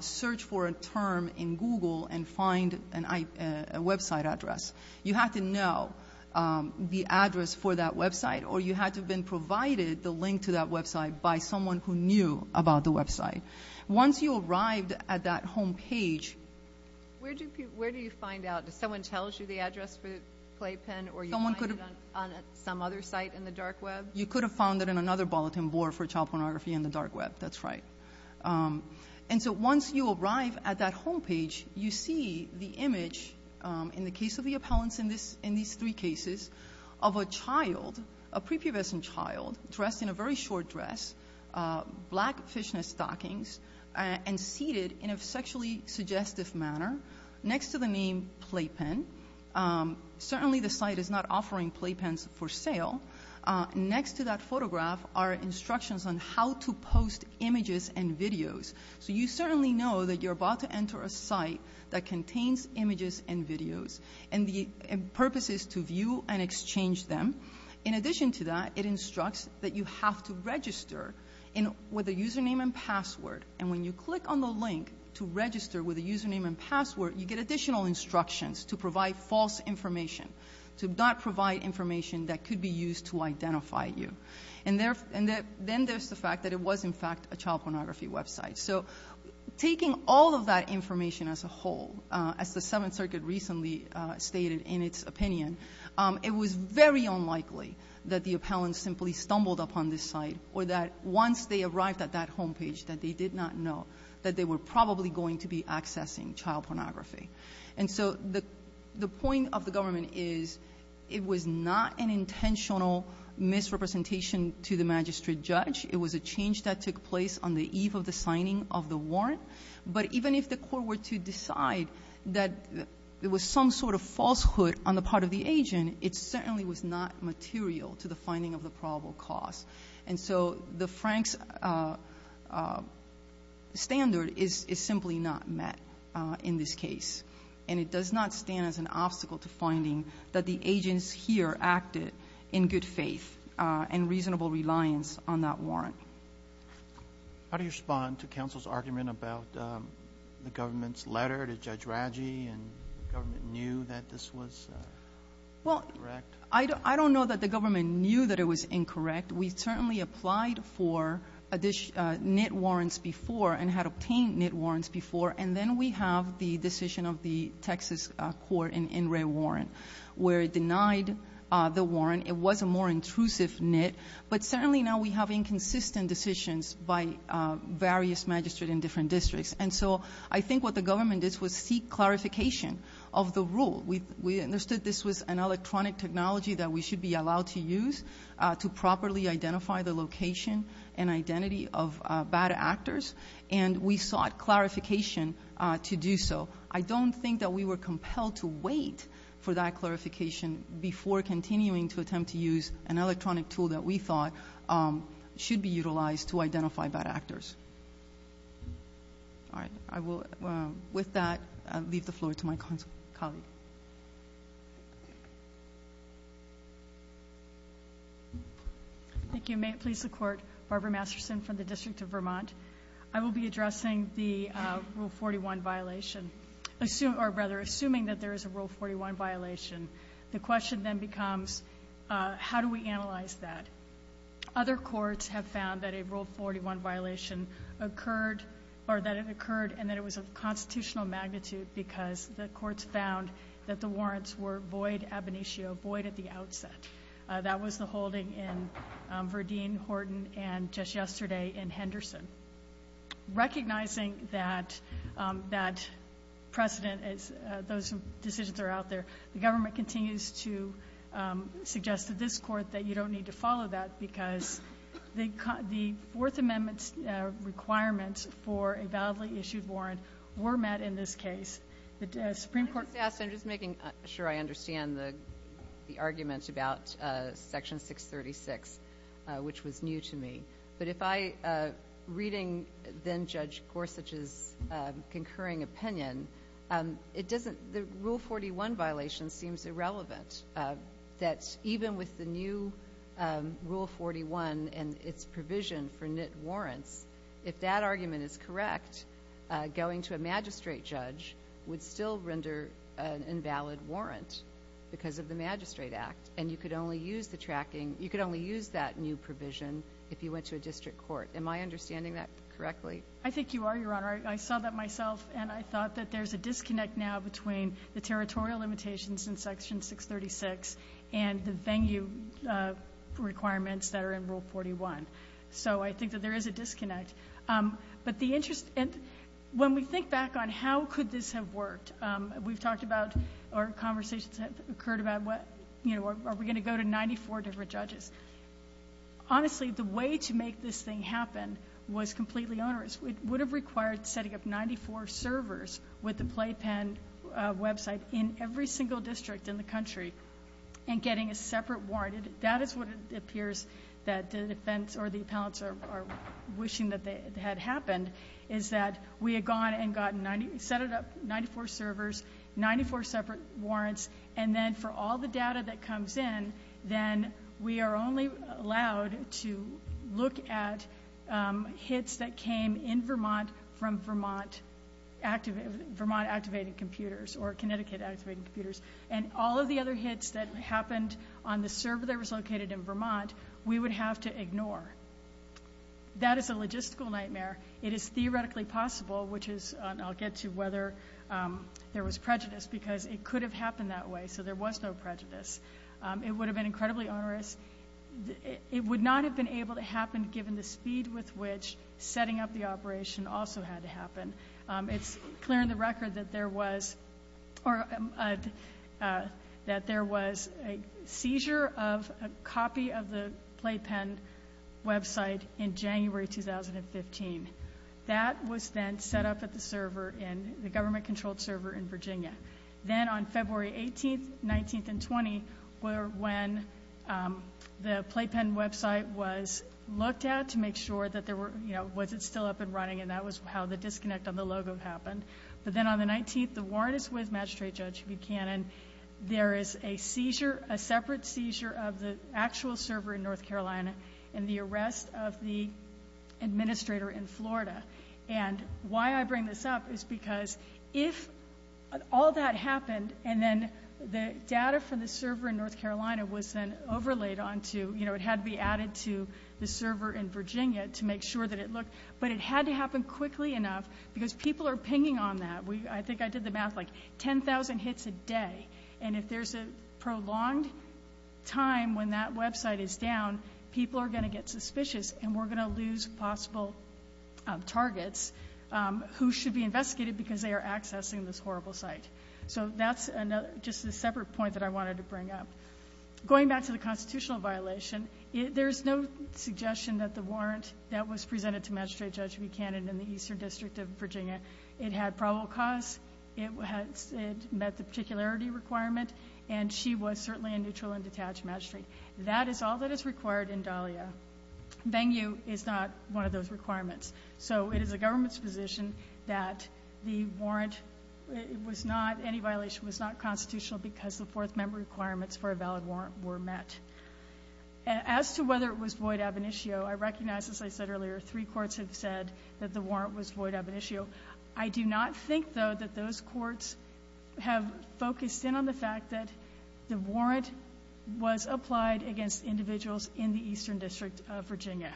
search for a term in Google and find a website address. You have to know the address for that website or you had to have been provided the link to that website by someone who knew about the website. Once you arrived at that home page – Where do you find out? Does someone tell you the address for Playpen or you find it on some other site in the dark web? You could have found it in another bulletin board for child pornography in the dark web. That's right. And so once you arrive at that home page, you see the image in the case of a child, a prepubescent child, dressed in a very short dress, black fishnet stockings, and seated in a sexually suggestive manner next to the name Playpen. Certainly the site is not offering Playpens for sale. Next to that photograph are instructions on how to post images and videos. So you certainly know that you're about to enter a site that contains images and videos and the purpose is to view and exchange them. In addition to that, it instructs that you have to register with a username and password. And when you click on the link to register with a username and password, you get additional instructions to provide false information, to not provide information that could be used to identify you. And then there's the fact that it was, in fact, a child pornography website. So taking all of that information as a whole, as the Seventh Circuit recently stated in its opinion, it was very unlikely that the appellant simply stumbled upon this site or that once they arrived at that home page that they did not know that they were probably going to be accessing child pornography. And so the point of the government is it was not an intentional misrepresentation to the magistrate judge. It was a change that took place on the eve of the signing of the warrant. But even if the court were to decide that there was some sort of falsehood on the part of the agent, it certainly was not material to the finding of the probable cause. And so the Franks standard is simply not met in this case. And it does not stand as an obstacle to finding that the agents here acted in good faith and reasonable reliance on that warrant. How do you respond to counsel's argument about the government's letter to Judge Raggi and the government knew that this was incorrect? Well, I don't know that the government knew that it was incorrect. We certainly applied for knit warrants before and had obtained knit warrants before. And then we have the decision of the Texas court in In Re Warrant, where it denied the warrant. It was a more consistent decision by various magistrates in different districts. And so I think what the government did was seek clarification of the rule. We understood this was an electronic technology that we should be allowed to use to properly identify the location and identity of bad actors. And we sought clarification to do so. I don't think that we were compelled to wait for that clarification before continuing to attempt to use an electronic tool that we thought should be utilized to identify bad actors. All right. I will, with that, leave the floor to my colleague. Thank you. May it please the Court. Barbara Masterson from the District of Vermont. I will be addressing the Rule 41 violation, or rather, assuming that there is a Rule 41 violation. The question then becomes, how do we analyze that? Other courts have found that a Rule 41 violation occurred, or that it occurred and that it was of constitutional magnitude because the courts found that the warrants were void ab initio, void at the outset. That was the holding in Verdeen, Horton, and just yesterday in Henderson. Recognizing that precedent, those decisions are out there, the government continues to suggest to this Court that you don't need to follow that because the Fourth Amendment's requirements for a validly issued warrant were met in this case. The Supreme Court I'm just making sure I understand the argument about Section 636, which was new to me. But if I, reading then-Judge Gorsuch's concurring opinion, it doesn't, the Rule 41 violation seems irrelevant, that even with the new Rule 41 and its provision for knit warrants, if that argument is correct, going to a magistrate judge would still render an invalid warrant because of the Magistrate Act. And you could only use the tracking you could only use that new provision if you went to a district court. Am I understanding that correctly? I think you are, Your Honor. I saw that myself, and I thought that there's a disconnect now between the territorial limitations in Section 636 and the venue requirements that are in Rule 41. So I think that there is a disconnect. But the interest and when we think back on how could this have worked, we've talked about or conversations have occurred about what, you know, are we going to go to 94 different judges? Honestly, the way to make this thing happen was completely onerous. It would have required setting up 94 servers with the playpen website in every single district in the country and getting a separate warrant. That is what it appears that the defense or the appellants are wishing that they had happened, is that we had gone and gotten 90, set it up 94 servers, 94 separate warrants. And then for all the data that comes in, then we are only allowed to look at hits that came in Vermont from Vermont activated computers or Connecticut activated computers. And all of the other hits that happened on the server that was located in Vermont, we would have to ignore. That is a logistical nightmare. It is theoretically possible, which is I'll get to whether there was prejudice, because it could have happened that way. So there was no prejudice. It would have been incredibly onerous. It would not have been able to happen given the speed with which setting up the operation also had to happen. It's clear in the record that there was a seizure of a copy of the playpen website in January 2015. That was then set up at the server in the government-controlled server in Virginia. Then on February 18th, 19th, and 20 were when the playpen website was looked at to make sure that there were, you know, was it still up and running? And that was how the disconnect on the logo happened. But then on the 19th, the warrant is with Magistrate Judge Buchanan. There is a seizure, a separate seizure of the actual server in North Carolina and the arrest of the administrator in Florida. And why I bring this up is because if all that happened and then the data from the server in North Carolina was then overlaid onto, you know, it had to be added to the server in Virginia to make sure that it looked. But it had to happen quickly enough because people are pinging on that. I think I did the math, like 10,000 hits a day. And if there's a prolonged time when that website is down, people are going to get suspicious and we're going to lose possible targets who should be investigated because they are accessing this horrible site. So that's just a separate point that I wanted to bring up. Going back to the constitutional violation, there's no suggestion that the warrant that was presented to Magistrate Judge Buchanan in the Eastern District of Virginia, it had probable cause, it met the particularity requirement, and she was certainly a neutral and detached magistrate. That is all that is required in Dahlia. Bang U is not one of those requirements. So it is the government's position that the warrant was not, any violation was not As to whether it was void ab initio, I recognize, as I said earlier, three courts have said that the warrant was void ab initio. I do not think, though, that those courts have focused in on the fact that the warrant was applied against individuals in the Eastern District of Virginia.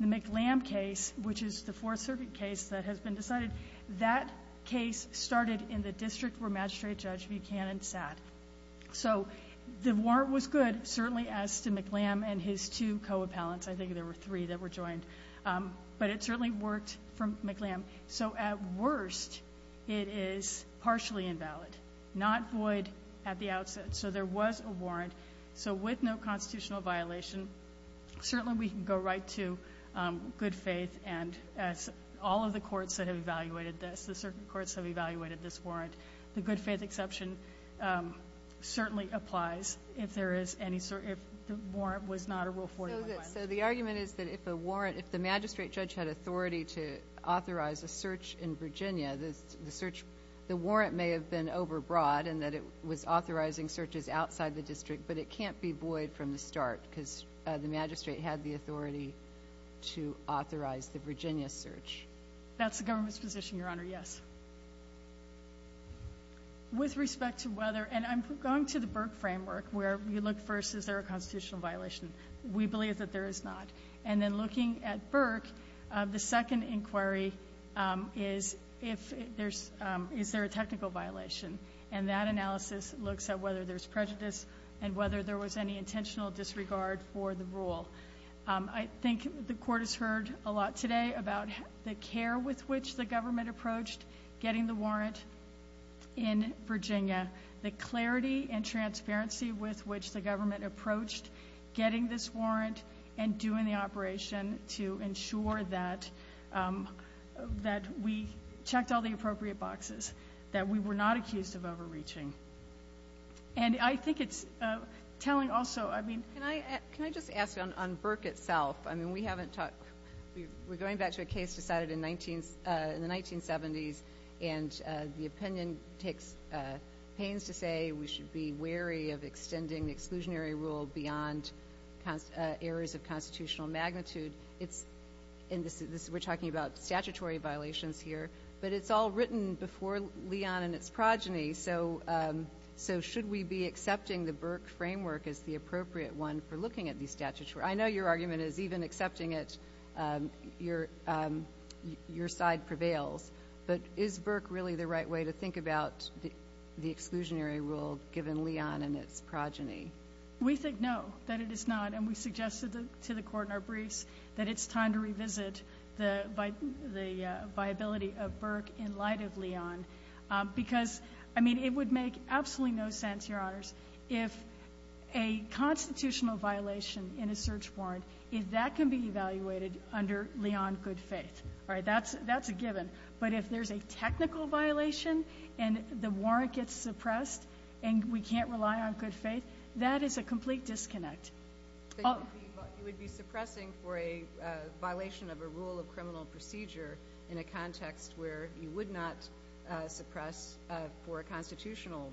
The McLamb case, which is the Fourth Circuit case that has been decided, that case started in the district where McLamb and his two co-appellants, I think there were three that were joined, but it certainly worked for McLamb. So at worst, it is partially invalid, not void at the outset. So there was a warrant. So with no constitutional violation, certainly we can go right to good faith and all of the courts that have evaluated this, the circuit courts have evaluated this warrant. The good faith exception certainly applies if the warrant was not a Rule 41. So the argument is that if the magistrate judge had authority to authorize a search in Virginia, the warrant may have been overbroad and that it was authorizing searches outside the district, but it can't be void from the start because the magistrate had the authority to authorize the Virginia search. That's the government's position, Your Honor, yes. With respect to whether, and I'm going to the Burke framework where you look first, is there a constitutional violation? We believe that there is not. And then looking at Burke, the second inquiry is if there's, is there a technical violation? And that analysis looks at whether there's prejudice and whether there was any intentional disregard for the rule. I think the Court has heard a lot today about the care with which the government approached getting the warrant in Virginia, the clarity and transparency with which the government approached getting this warrant and doing the operation to ensure that we checked all the appropriate boxes, that we were not accused of overreaching. And I think it's telling also, I mean... Can I just ask on Burke itself? I mean, we haven't talked, we're going back to a case decided in the 1970s, and the opinion takes pains to say we should be wary of extending the exclusionary rule beyond areas of constitutional magnitude. It's, and we're talking about statutory violations here, but it's all written before Leon and its progeny, so should we be accepting the Burke framework as the appropriate one for looking at the statutory? I know your argument is even accepting it, your side prevails. But is Burke really the right way to think about the exclusionary rule given Leon and its progeny? We think no, that it is not. And we suggested to the Court in our briefs that it's time to revisit the viability of Burke in light of Leon. Because, I mean, it would make absolutely no sense, Your Honors, if a constitutional violation in a search warrant, that can be evaluated under Leon good faith. That's a given. But if there's a technical violation and the warrant gets reviewed under Leon good faith, that is a complete disconnect. But you would be suppressing for a violation of a rule of criminal procedure in a context where you would not suppress for a constitutional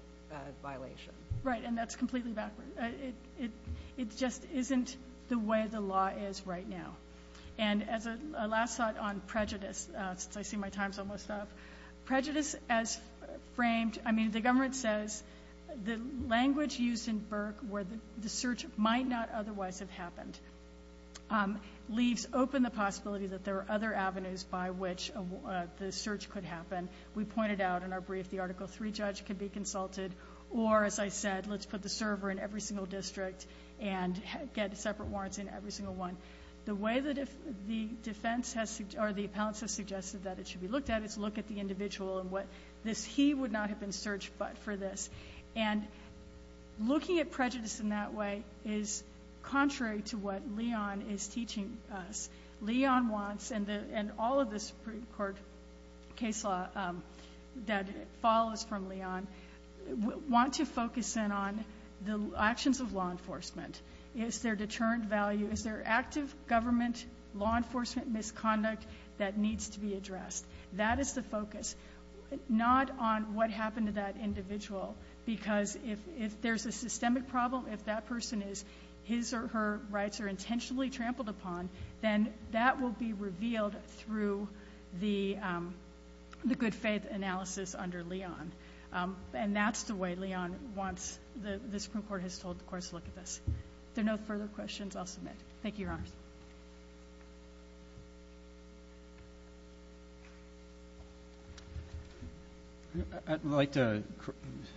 violation. Right, and that's completely backward. It just isn't the way the law is right now. And as a last thought on prejudice, since I see my time's almost up, prejudice as framed, I mean, the government says the language used in Burke where the search might not otherwise have happened leaves open the possibility that there are other avenues by which the search could happen. We pointed out in our brief the Article III judge could be consulted or, as I said, let's put the server in every single district and get separate warrants in every single one. The way that the defense has or the appellants have suggested that it should be looked at is look at the individual and what this he would not have been searched for this. And looking at prejudice in that way is contrary to what Leon is teaching us. Leon wants, and all of this Supreme Court case law that follows from Leon, want to focus in on the actions of law enforcement. Is there deterrent value? Is there active government law enforcement misconduct that needs to be addressed? That is the focus, not on what happened to that individual. Because if there's a systemic problem, if that person is his or her rights are intentionally trampled upon, then that will be revealed through the good faith analysis under Leon. And that's the way Leon wants the Supreme Court has told the courts to look at this. If there are no further questions, I'll submit. Thank you, Your Honors. I'd like to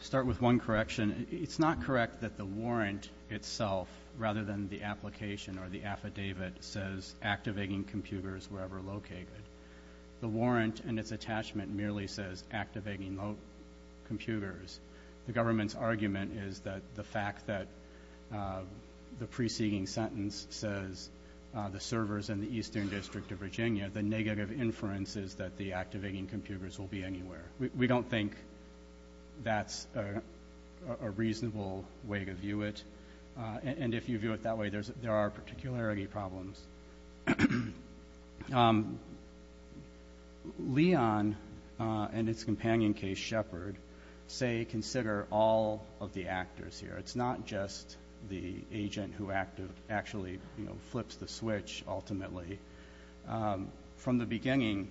start with one correction. It's not correct that the warrant itself, rather than the application or the affidavit, says activating computers wherever located. The warrant and its attachment merely says activating computers. The government's argument is that the fact that the preceding sentence says the servers in the Eastern District of Virginia, the negative inference is that the activating computers will be anywhere. We don't think that's a reasonable way to view it. And if you view it that way, there are particularity problems. Leon and its companion, Case Shepard, say consider all of the actors here. It's not just the agent who actually flips the switch, ultimately. From the beginning,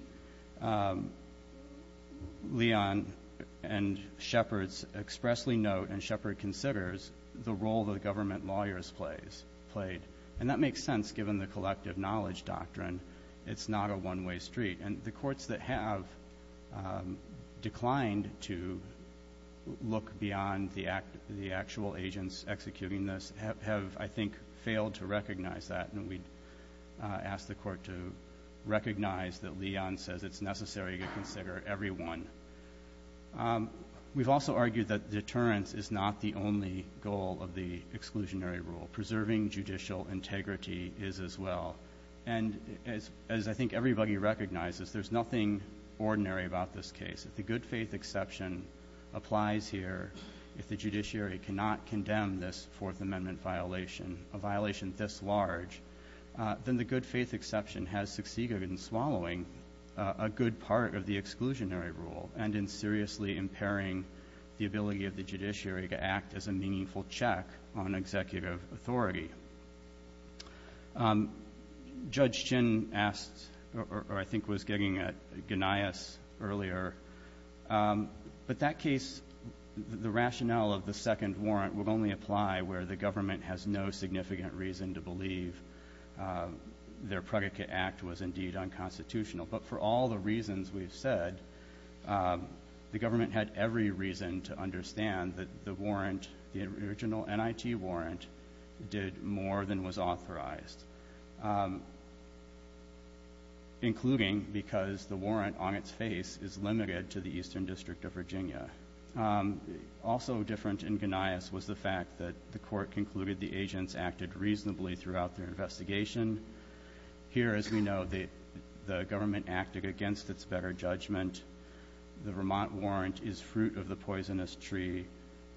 Leon and Shepard expressly note, and Shepard considers, the role that government lawyers played. And that makes sense, given the collective knowledge doctrine. It's not a one-way street. And the courts that have declined to look beyond the actual agents executing this have, I think, failed to recognize that. And we'd ask the Court to recognize that Leon says it's necessary to consider everyone. We've also argued that deterrence is not the only goal of the exclusionary rule. Preserving judicial integrity is as well. And as I think everybody recognizes, there's nothing ordinary about this case. If the good-faith exception applies here, if the judiciary cannot condemn this Fourth Amendment violation, a violation this large, then the good-faith exception has succeeded in swallowing a good part of the exclusionary rule and in seriously impairing the ability of the judiciary to act as a meaningful check on executive authority. Judge Chin asked, or I think was gigging at, Gnaeus earlier, but that case, the rationale of the second warrant would only apply where the government has no significant reason to believe their predicate act was indeed unconstitutional. But for all the reasons we've said, the government had every reason to understand that the warrant, the original NIT warrant, did more than was authorized, including because the warrant on its face is limited to the court concluded the agents acted reasonably throughout their investigation. Here, as we know, the government acted against its better judgment. The Vermont warrant is fruit of the poisonous tree,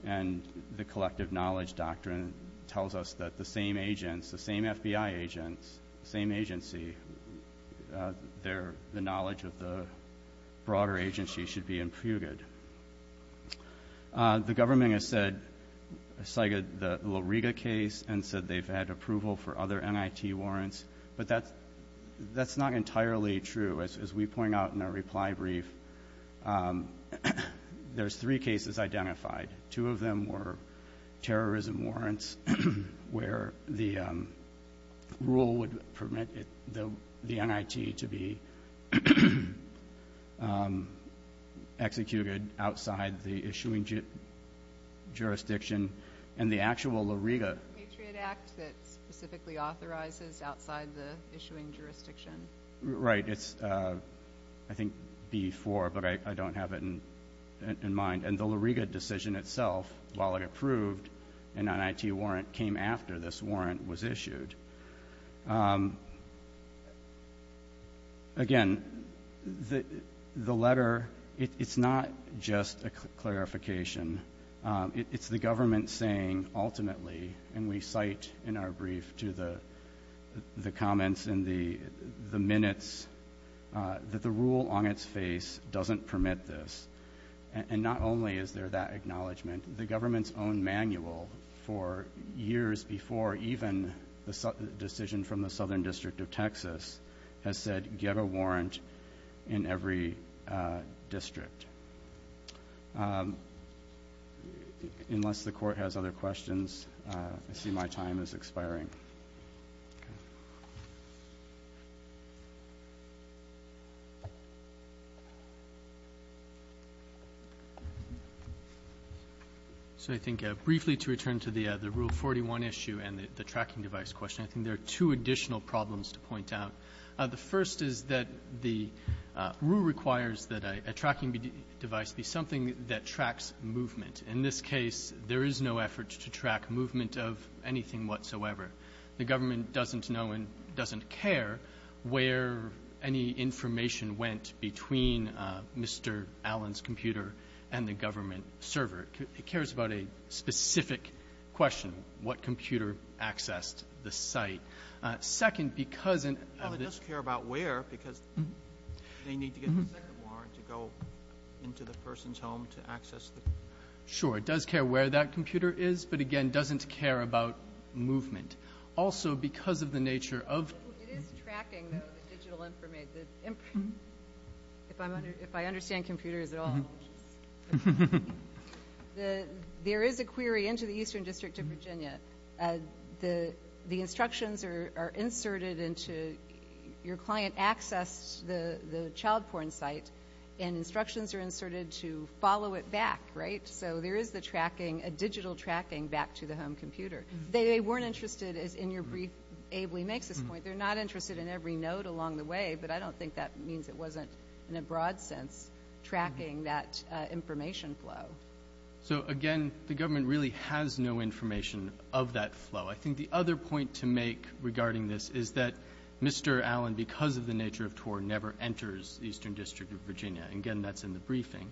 and the collective knowledge doctrine tells us that the same agents, the same FBI agents, the same agency, the knowledge of the broader agency should be imputed. The government has cited the La Riga case and said they've had approval for other NIT warrants, but that's not entirely true. As we point out in our reply brief, there's three cases identified. Two of them were terrorism warrants where the rule would permit the NIT to be executed outside the issuing jurisdiction, and the actual La Riga. Right. It's, I think, B4, but I don't have it in mind. And the La Riga decision itself, while it approved, an NIT warrant came after this warrant was issued. Again, the letter, it's not just a clarification. It's the government saying ultimately, and we cite in our brief to the comments in the minutes, that the rule on its face doesn't permit this. And not only is there that acknowledgement, the government's own manual for years before even the decision from the Southern District of Texas has said, get a warrant in every district. Unless the court has other questions, I see my time is expiring. Okay. So I think briefly to return to the rule 41 issue and the tracking device question, I think there are two additional problems to point out. The first is that the rule requires that a tracking device be something that tracks movement. In this case, there is no effort to track movement of anything whatsoever. The government doesn't know and doesn't care where any information went between Mr. Allen's computer and the government server. It cares about a specific question, what computer accessed the site. Second, because it does care about where, because they need to get a second home to access the computer. Sure, it does care where that computer is, but again, doesn't care about movement. Also, because of the nature of... It is tracking the digital information. If I understand computers at all. There is a query into the Eastern District of Virginia. The instructions are inserted into your client to access the child porn site and instructions are inserted to follow it back, right? So there is a digital tracking back to the home computer. They weren't interested, as in your brief, Abley makes this point, they're not interested in every note along the way, but I don't think that means it wasn't in a broad sense tracking that information flow. So again, the government really has no information of that because the nature of TOR never enters the Eastern District of Virginia. Again, that's in the briefing.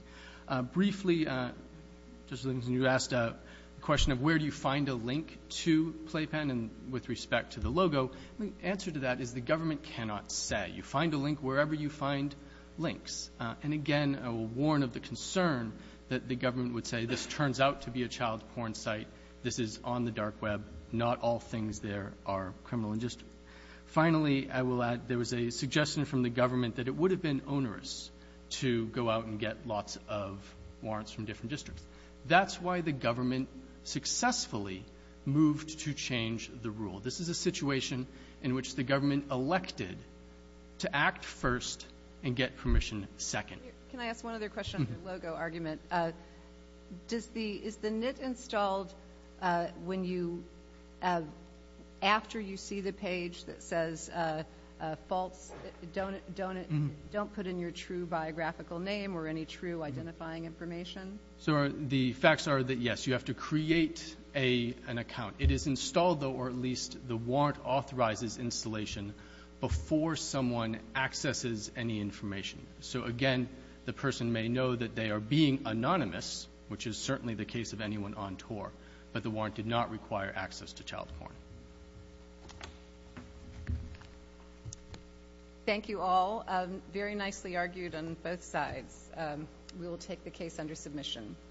Briefly, you asked a question of where do you find a link to Playpen with respect to the logo. The answer to that is the government cannot say. You find a link wherever you find links. And again, I will warn of the concern that the government would say this turns out to be a child porn site. This is on the dark web. Not all things there are criminal. And just finally, I will add there was a suggestion from the government that it would have been onerous to go out and get lots of warrants from different districts. That's why the government successfully moved to change the rule. This is a situation in which the government elected to act first and get permission second. Can I ask one other question? Logo argument is the NIT installed after you see the page that says false don't put in your true biographical name or any true identifying information? The facts are that yes, you have to create an account. It is installed or at least the warrant authorizes installation before someone accesses any information. So again, the person may know that they are being anonymous, which is certainly the case of anyone on tour. But the warrant did not require access to child porn. Thank you all. Very nicely argued on both sides. We will take the case under submission.